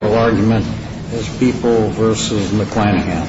argument as People v. McClanahan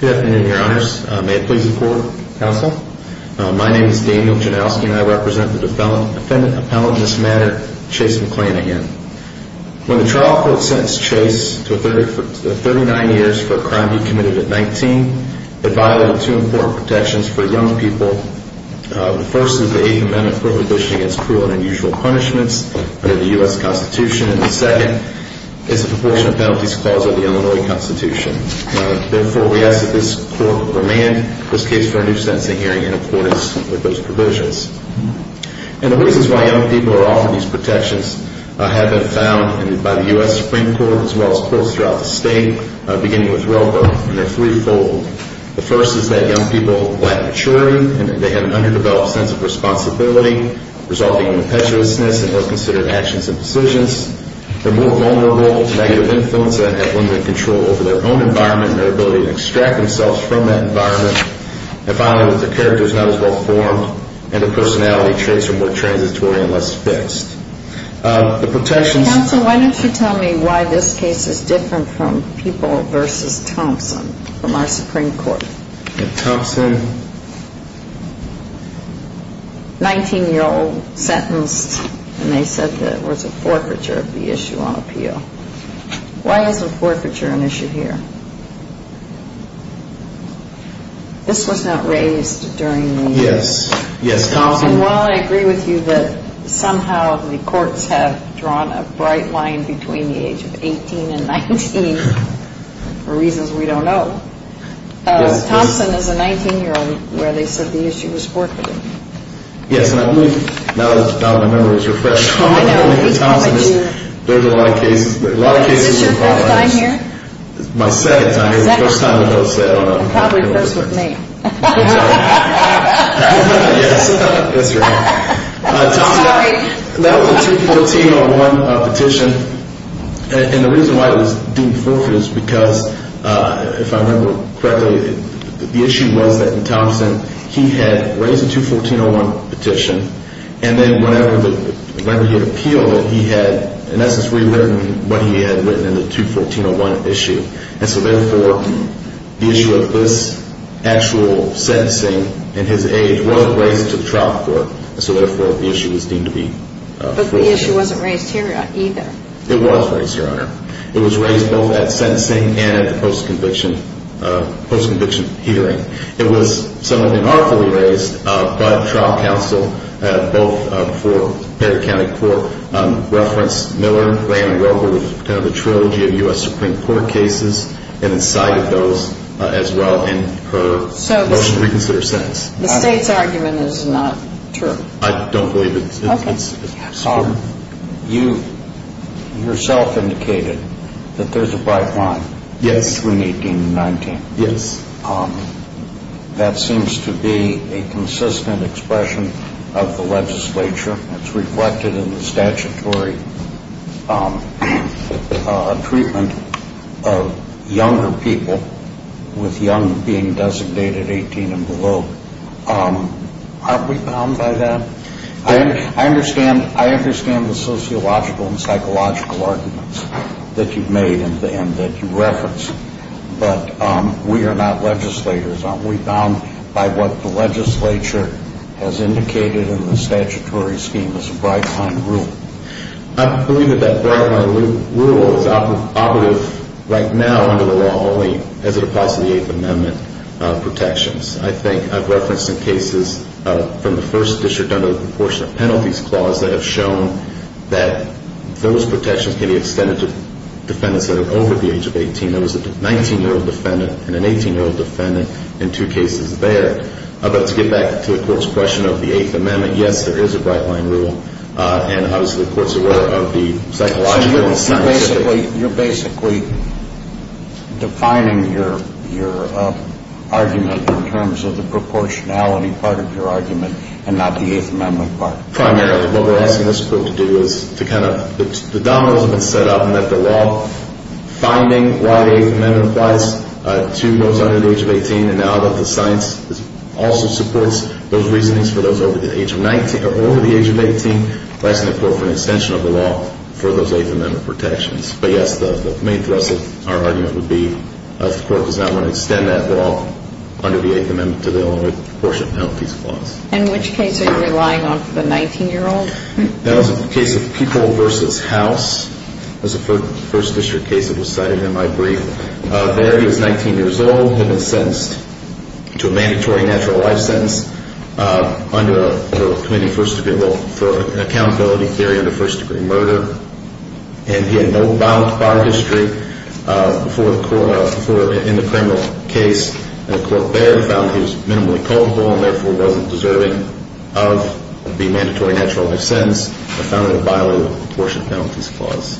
Good afternoon, your honors. May it please the court, counsel. My name is Daniel Janowski, and I represent the defendant appellant in this matter, Chase McClanahan. When the trial court sentenced Chase to 39 years for a crime he committed at 19, it violated two important protections for young people. The first is the Eighth Amendment prohibition against cruel and unusual punishments under the U.S. Constitution, and the second is the proportionate penalties clause of the Illinois Constitution. Therefore, we ask that this court remand this case for a new sentencing hearing in accordance with those provisions. And the reasons why young people are offered these protections have been found by the U.S. Supreme Court, as well as courts throughout the state, beginning with Roper, and they're threefold. The first is that young people lack maturity, and they have an underdeveloped sense of responsibility, resulting in impetuousness in well-considered actions and decisions. They're more vulnerable to negative influence and have limited control over their own environment and their ability to extract themselves from that environment. And finally, that their character is not as well-formed, and their personality traits are more transitory and less fixed. The protections... Counsel, why don't you tell me why this case is different from People v. Thompson from our Supreme Court? Thompson, 19-year-old, sentenced, and they said that it was a forfeiture of the issue on appeal. Why is a forfeiture an issue here? This was not raised during the... Yes. Yes, Thompson... And while I agree with you that somehow the courts have drawn a bright line between the age of 18 and 19, for reasons we don't know, Thompson is a 19-year-old where they said the issue was forfeited. Yes, and I believe, now that my memory is refreshed, Thompson is... There's a lot of cases, a lot of cases... Is this your first time here? It's my second time here. It's the first time I've hosted. Probably first with me. Yes, that's right. Sorry. That was a 214-01 petition, and the reason why it was deemed forfeited is because, if I remember correctly, the issue was that Thompson, he had raised a 214-01 petition, and then whenever he had appealed it, he had, in essence, rewritten what he had written in the 214-01 issue, and so therefore, the issue of this actual sentencing in his age was raised to the trial court, and so therefore, the issue was deemed to be forfeited. But the issue wasn't raised here either. It was raised, Your Honor. It was raised both at sentencing and at the post-conviction hearing. It was somewhat unartfully raised, but trial counsel, both for Perry County Court, referenced Miller, Graham, and Wilker with the trilogy of U.S. Supreme Court cases, and incited those as well in her motion to reconsider her sentence. The State's argument is not true. I don't believe it's true. You yourself indicated that there's a bright line between 18 and 19. Yes. That seems to be a consistent expression of the legislature. It's reflected in the statutory treatment of younger people with young being designated 18 and below. Aren't we bound by that? I understand the sociological and psychological arguments that you've made and that you reference, but we are not legislators. Aren't we bound by what the legislature has indicated in the statutory scheme as a bright line rule? I believe that that bright line rule is operative right now under the law only as it applies to the Eighth Amendment protections. I think I've referenced in cases from the First District under the Proportion of Penalties Clause that have shown that those protections can be extended to defendants that are over the age of 18. There was a 19-year-old defendant and an 18-year-old defendant in two cases there. But to get back to the Court's question of the Eighth Amendment, yes, there is a bright line rule, and obviously the Court's aware of the psychological and scientific... of the proportionality part of your argument and not the Eighth Amendment part. Primarily, what we're asking this Court to do is to kind of... The dominoes have been set up in that the law, finding why the Eighth Amendment applies to those under the age of 18, and now that the science also supports those reasonings for those over the age of 19... or over the age of 18, we're asking the Court for an extension of the law for those Eighth Amendment protections. But yes, the main thrust of our argument would be if the Court does not want to extend that law under the Eighth Amendment to the only proportion of Penalties Clause. And which case are you relying on for the 19-year-old? That was a case of People v. House. It was a First District case that was cited in my brief. There, he was 19 years old, had been sentenced to a mandatory natural life sentence under the Committee for Accountability Theory under first-degree murder. And he had no violent prior history in the criminal case. And the Court there found he was minimally culpable and therefore wasn't deserving of the mandatory natural life sentence and found it a violation of the Proportion of Penalties Clause.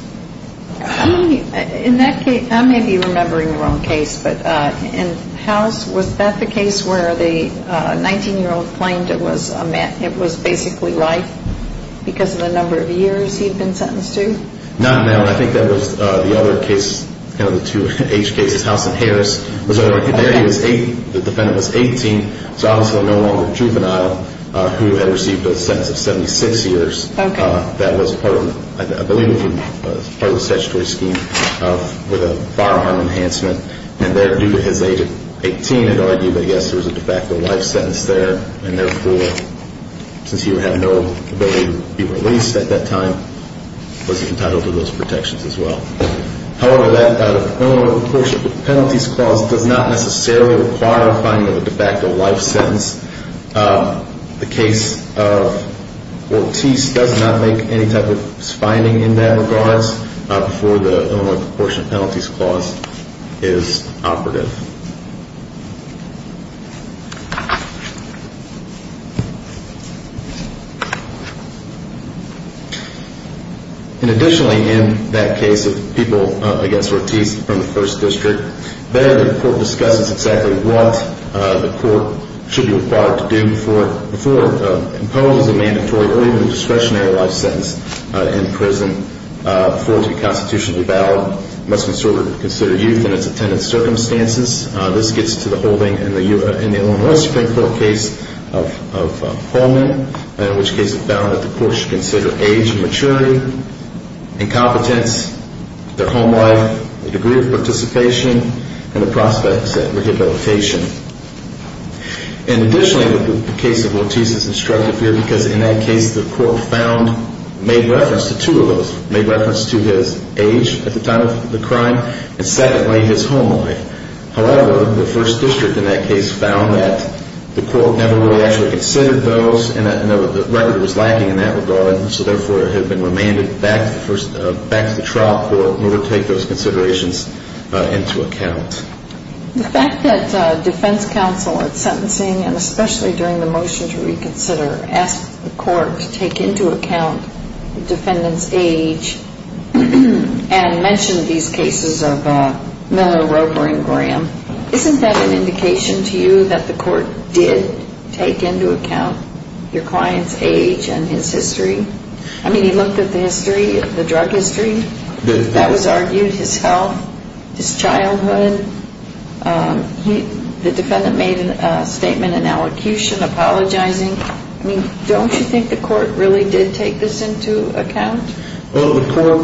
In that case, I may be remembering the wrong case, but in House, was that the case where the 19-year-old claimed it was basically life because of the number of years he'd been sentenced to? Not in that one. I think that was the other case, one of the two age cases, House v. Harris. There, the defendant was 18, so obviously no longer a juvenile who had received a sentence of 76 years. That was part of, I believe it was part of the statutory scheme with a firearm enhancement. And there, due to his age of 18, it argued that yes, there was a de facto life sentence there. And therefore, since he would have no ability to be released at that time, was entitled to those protections as well. However, that Illinois Proportion of Penalties Clause does not necessarily require a finding of a de facto life sentence. The case of Ortiz does not make any type of finding in that regards before the Illinois Proportion of Penalties Clause is operative. Additionally, in that case of people against Ortiz from the 1st District, there the court discusses exactly what the court should be required to do before imposing a mandatory or even a discretionary life sentence in prison for it to be constitutionally valid. It must be considered youth in its attendant circumstances. This gets to the holding in the Illinois Supreme Court case of Holman, in which case it found that the court should consider age and maturity, incompetence, their home life, the degree of participation, and the prospects at rehabilitation. And additionally, the case of Ortiz is instructive here because in that case, the court found, made reference to two of those. Made reference to his age at the time of the crime, and secondly, his home life. However, the 1st District in that case found that the court never really actually considered those and the record was lacking in that regard, so therefore it had been remanded back to the trial court in order to take those considerations into account. The fact that defense counsel at sentencing, and especially during the motion to reconsider, asked the court to take into account the defendant's age and mentioned these cases of Miller, Roper, and Graham, isn't that an indication to you that the court did take into account your client's age and his history? I mean, he looked at the history, the drug history, that was argued, his health, his childhood. The defendant made a statement in allocution apologizing. I mean, don't you think the court really did take this into account? Well, the court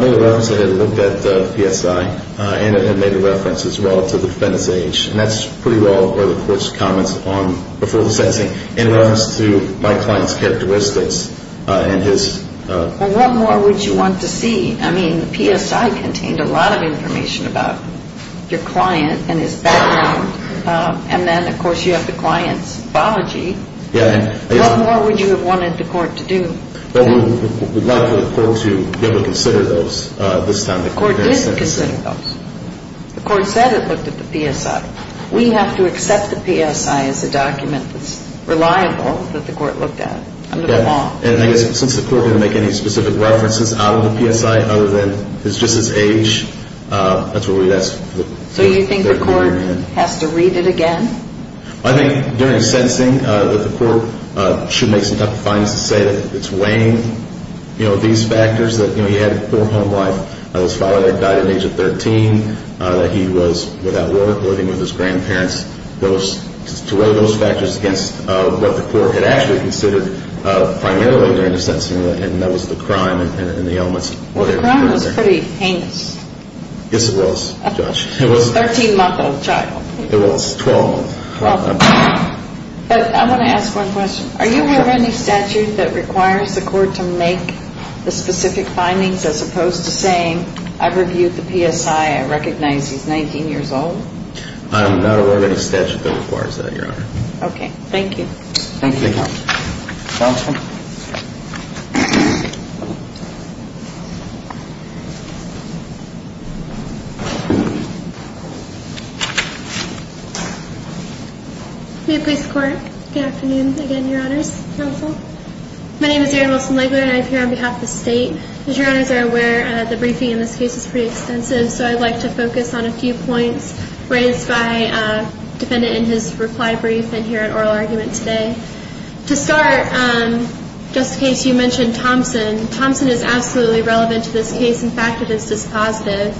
made a reference and had looked at the PSI and had made a reference as well to the defendant's age. And that's pretty well where the court's comments on before the sentencing in reference to my client's characteristics and his... Well, what more would you want to see? I mean, the PSI contained a lot of information about your client and his background. And then, of course, you have the client's biology. Yeah. What more would you have wanted the court to do? Well, we would like for the court to be able to consider those this time. The court did consider those. The court said it looked at the PSI. We have to accept the PSI as a document that's reliable, that the court looked at under the law. And I guess since the court didn't make any specific references out of the PSI other than just his age, that's what we'd ask... So you think the court has to read it again? I think during sentencing that the court should make some type of findings to say that it's weighing these factors, that he had a poor home life, that his father died at the age of 13, that he was without work, living with his grandparents, to weigh those factors against what the court had actually considered primarily during the sentencing. And that was the crime and the ailments. Well, the crime was pretty heinous. Yes, it was, Judge. A 13-month-old child. It was. 12 months. But I want to ask one question. Are you aware of any statute that requires the court to make the specific findings as opposed to saying, I've reviewed the PSI, I recognize he's 19 years old? I'm not aware of any statute that requires that, Your Honor. Okay. Thank you. Thank you, Your Honor. Counsel? New Police Court. Good afternoon again, Your Honors. Counsel? My name is Erin Wilson-Legler, and I'm here on behalf of the state. As Your Honors are aware, the briefing in this case is pretty extensive, so I'd like to focus on a few points raised by a defendant in his reply brief and hear an oral argument today. To start, just in case you mentioned Thompson, Thompson is absolutely relevant to this case. In fact, it is dispositive.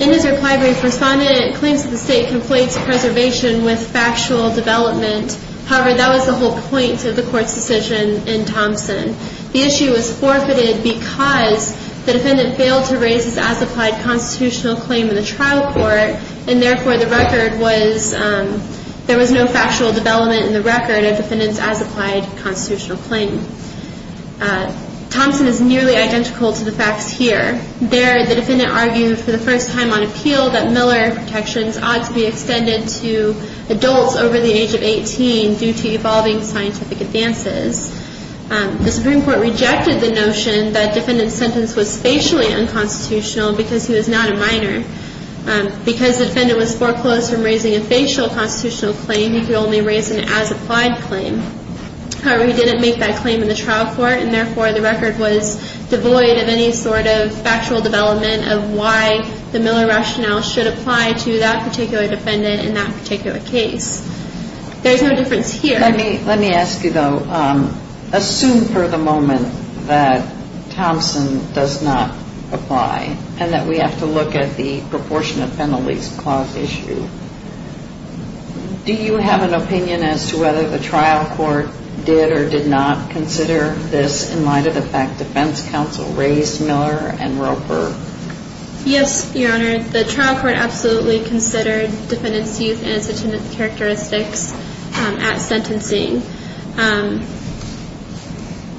In his reply brief, a respondent claims that the state conflates preservation with factual development. However, that was the whole point of the court's decision in Thompson. The issue was forfeited because the defendant failed to raise his as-applied constitutional claim in the trial court, and therefore there was no factual development in the record of the defendant's as-applied constitutional claim. Thompson is nearly identical to the facts here. There, the defendant argued for the first time on appeal that Miller protections ought to be extended to adults over the age of 18 due to evolving scientific advances. The Supreme Court rejected the notion that the defendant's sentence was spatially unconstitutional because he was not a minor. Because the defendant was foreclosed from raising a facial constitutional claim, he could only raise an as-applied claim. However, he didn't make that claim in the trial court, and therefore the record was devoid of any sort of factual development of why the Miller rationale should apply to that particular defendant in that particular case. There's no difference here. Let me ask you, though. Assume for the moment that Thompson does not apply and that we have to look at the proportionate penalties clause issue. Do you have an opinion as to whether the trial court did or did not consider this in light of the fact defense counsel raised Miller and Roper? Yes, Your Honor. The trial court absolutely considered defendant's youth and its attendance characteristics at sentencing.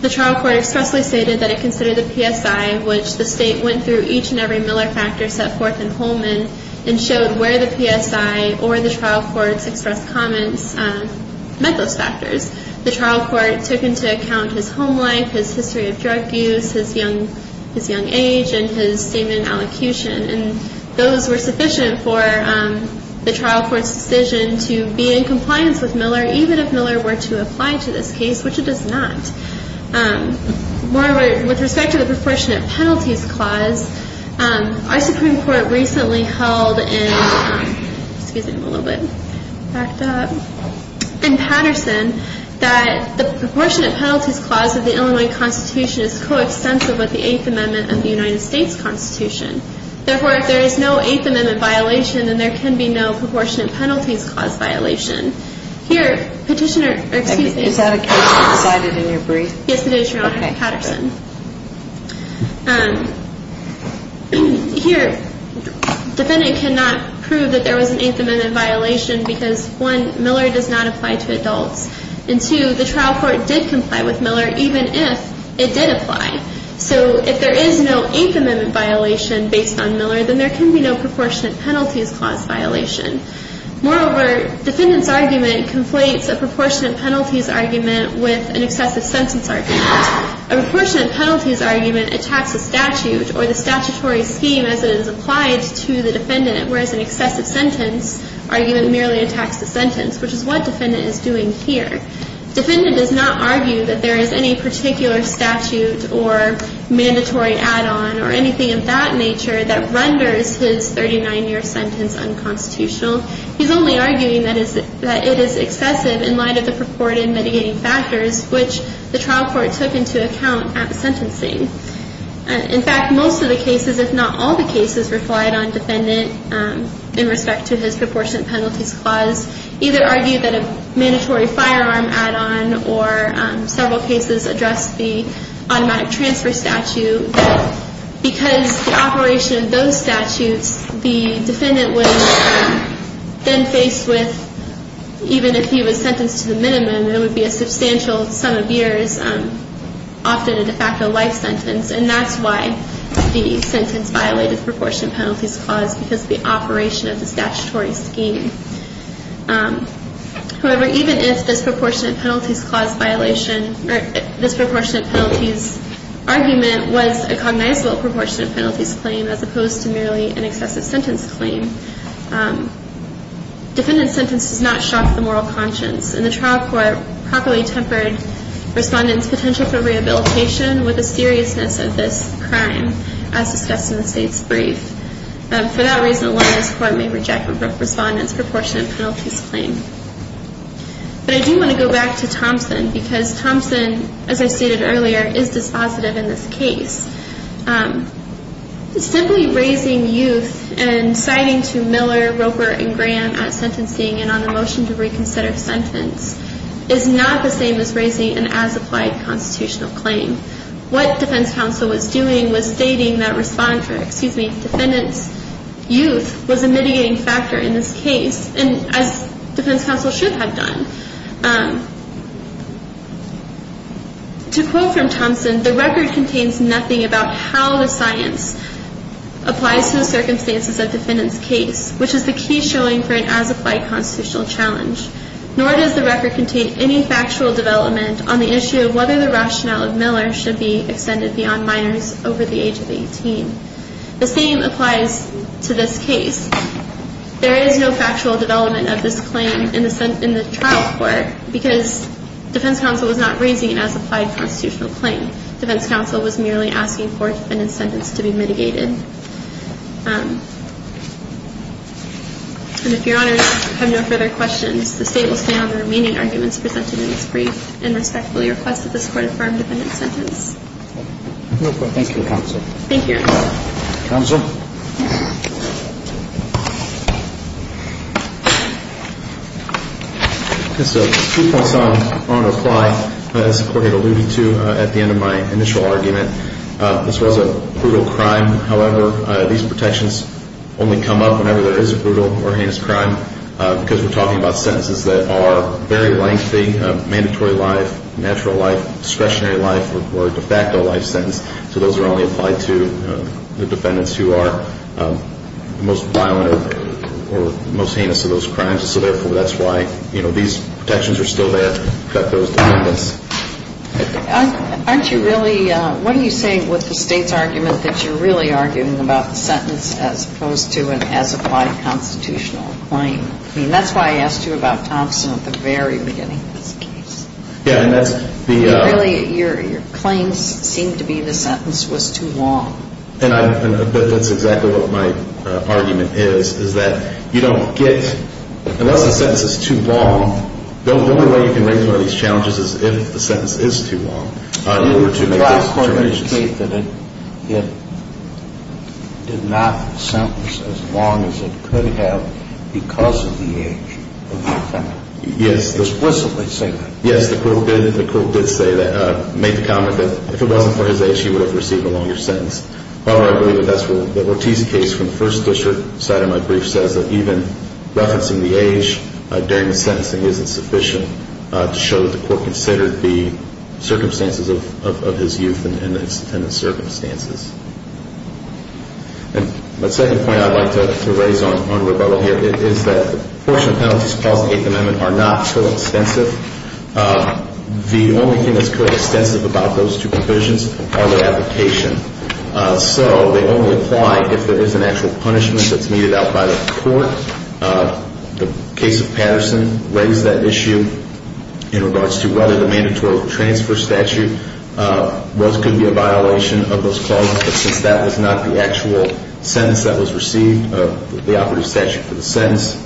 The trial court expressly stated that it considered the PSI, which the State went through each and every Miller factor set forth in Holman and showed where the PSI or the trial court's expressed comments met those factors. The trial court took into account his home life, his history of drug use, his young age, and his semen allocution. And those were sufficient for the trial court's decision to be in compliance with Miller, even if Miller were to apply to this case, which it does not. With respect to the proportionate penalties clause, our Supreme Court recently held in Patterson that the proportionate penalties clause of the Illinois Constitution is co-extensive with the Eighth Amendment of the United States Constitution. Therefore, if there is no Eighth Amendment violation, then there can be no proportionate penalties clause violation. Here, Petitioner... Is that a case you decided in your brief? Yes, it is, Your Honor. Patterson. Here, defendant cannot prove that there was an Eighth Amendment violation because, one, Miller does not apply to adults, and two, the trial court did comply with Miller, even if it did apply. So, if there is no Eighth Amendment violation based on Miller, then there can be no proportionate penalties clause violation. Moreover, defendant's argument conflates a proportionate penalties argument with an excessive sentence argument. A proportionate penalties argument attacks a statute or the statutory scheme as it is applied to the defendant, whereas an excessive sentence argument merely attacks the sentence, which is what defendant is doing here. Defendant does not argue that there is any particular statute or mandatory add-on or anything of that nature that renders his 39-year sentence unconstitutional. He's only arguing that it is excessive in light of the purported mitigating factors which the trial court took into account at sentencing. In fact, most of the cases, if not all the cases, relied on defendant in respect to his proportionate penalties clause, either argued that a mandatory firearm add-on or several cases addressed the automatic transfer statute because the operation of those statutes, the defendant was then faced with, even if he was sentenced to the minimum, it would be a substantial sum of years, often a de facto life sentence, and that's why the sentence violated the proportionate penalties clause, because of the operation of the statutory scheme. However, even if this proportionate penalties clause violation, or this proportionate penalties argument was a cognizable proportionate penalties claim as opposed to merely an excessive sentence claim, defendant's sentence does not shock the moral conscience, and the trial court properly tempered respondent's potential for rehabilitation with the seriousness of this crime, as discussed in the state's brief. For that reason, a lawyer's court may reject respondent's proportionate penalties claim. But I do want to go back to Thompson, because Thompson, as I stated earlier, is dispositive in this case. Simply raising youth and citing to Miller, Roper, and Graham at sentencing and on the motion to reconsider sentence is not the same as raising an as-applied constitutional claim. What defense counsel was doing was stating that respondent's youth was a mitigating factor in this case, as defense counsel should have done. To quote from Thompson, the record contains nothing about how the science applies to the circumstances of defendant's case, which is the key showing for an as-applied constitutional challenge. Nor does the record contain any factual development on the issue of whether the rationale of Miller should be extended beyond minors over the age of 18. The same applies to this case. There is no factual development of this claim in the trial court, because defense counsel was not raising an as-applied constitutional claim. Defense counsel was merely asking for a defendant's sentence to be mitigated. And if your honors have no further questions, the state will stay on the remaining arguments presented in this brief and respectfully request that this court affirm defendant's sentence. Thank you, counsel. Counsel? Two points I want to apply as the court had alluded to at the end of my initial argument. This was a brutal crime, however these protections only come up whenever there is a brutal or heinous crime, because we're talking about sentences that are very lengthy, mandatory life, natural life, discretionary life, or de facto life sentence. So those are only applied to the defendants who are the most violent or most heinous of those crimes. So that's why these protections are still there to protect those defendants. What are you saying with the state's argument that you're really arguing about the sentence as opposed to an as-applied constitutional claim? That's why I asked you about Thompson at the very beginning of this case. Your claims seemed to be the sentence was too long. That's exactly what my argument is. Unless the sentence is too long the only way you can raise one of these challenges is if the sentence is too long. Did the last court indicate that it did not sentence as long as it could have because of the age of the defendant? Did it explicitly say that? Yes, the court did make the comment that if it wasn't for his age he would have received a longer sentence. I believe that's where the Ortiz case from the first district side of my brief says that even referencing the age during the sentencing isn't sufficient to show that the court considered the circumstances of his youth and the circumstances. My second point I'd like to raise on rebuttal here is that the portion of penalties caused in the 8th Amendment are not co-extensive. The only thing that's co-extensive about those two provisions are their application. So they only apply if there is an actual punishment that's meted out by the court. The case of Patterson raised that issue in regards to whether the mandatory transfer statute could be a violation of those clauses but since that was not the actual sentence that was received the operative statute for the sentence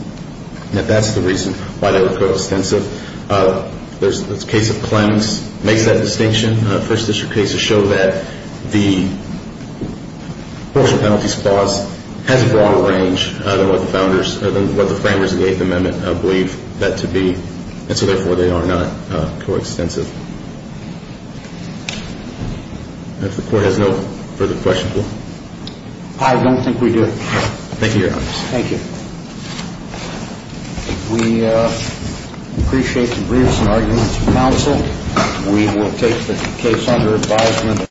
that's the reason why they were co-extensive. The case of Clemmings makes that distinction. First district cases show that the portion of penalties clause has a broader range than what the framers of the 8th Amendment believe that to be and so therefore they are not co-extensive. If the court has no further questions? I don't think we do. Thank you, Your Honor. We appreciate the briefs and arguments from counsel. We will take the case under advisement.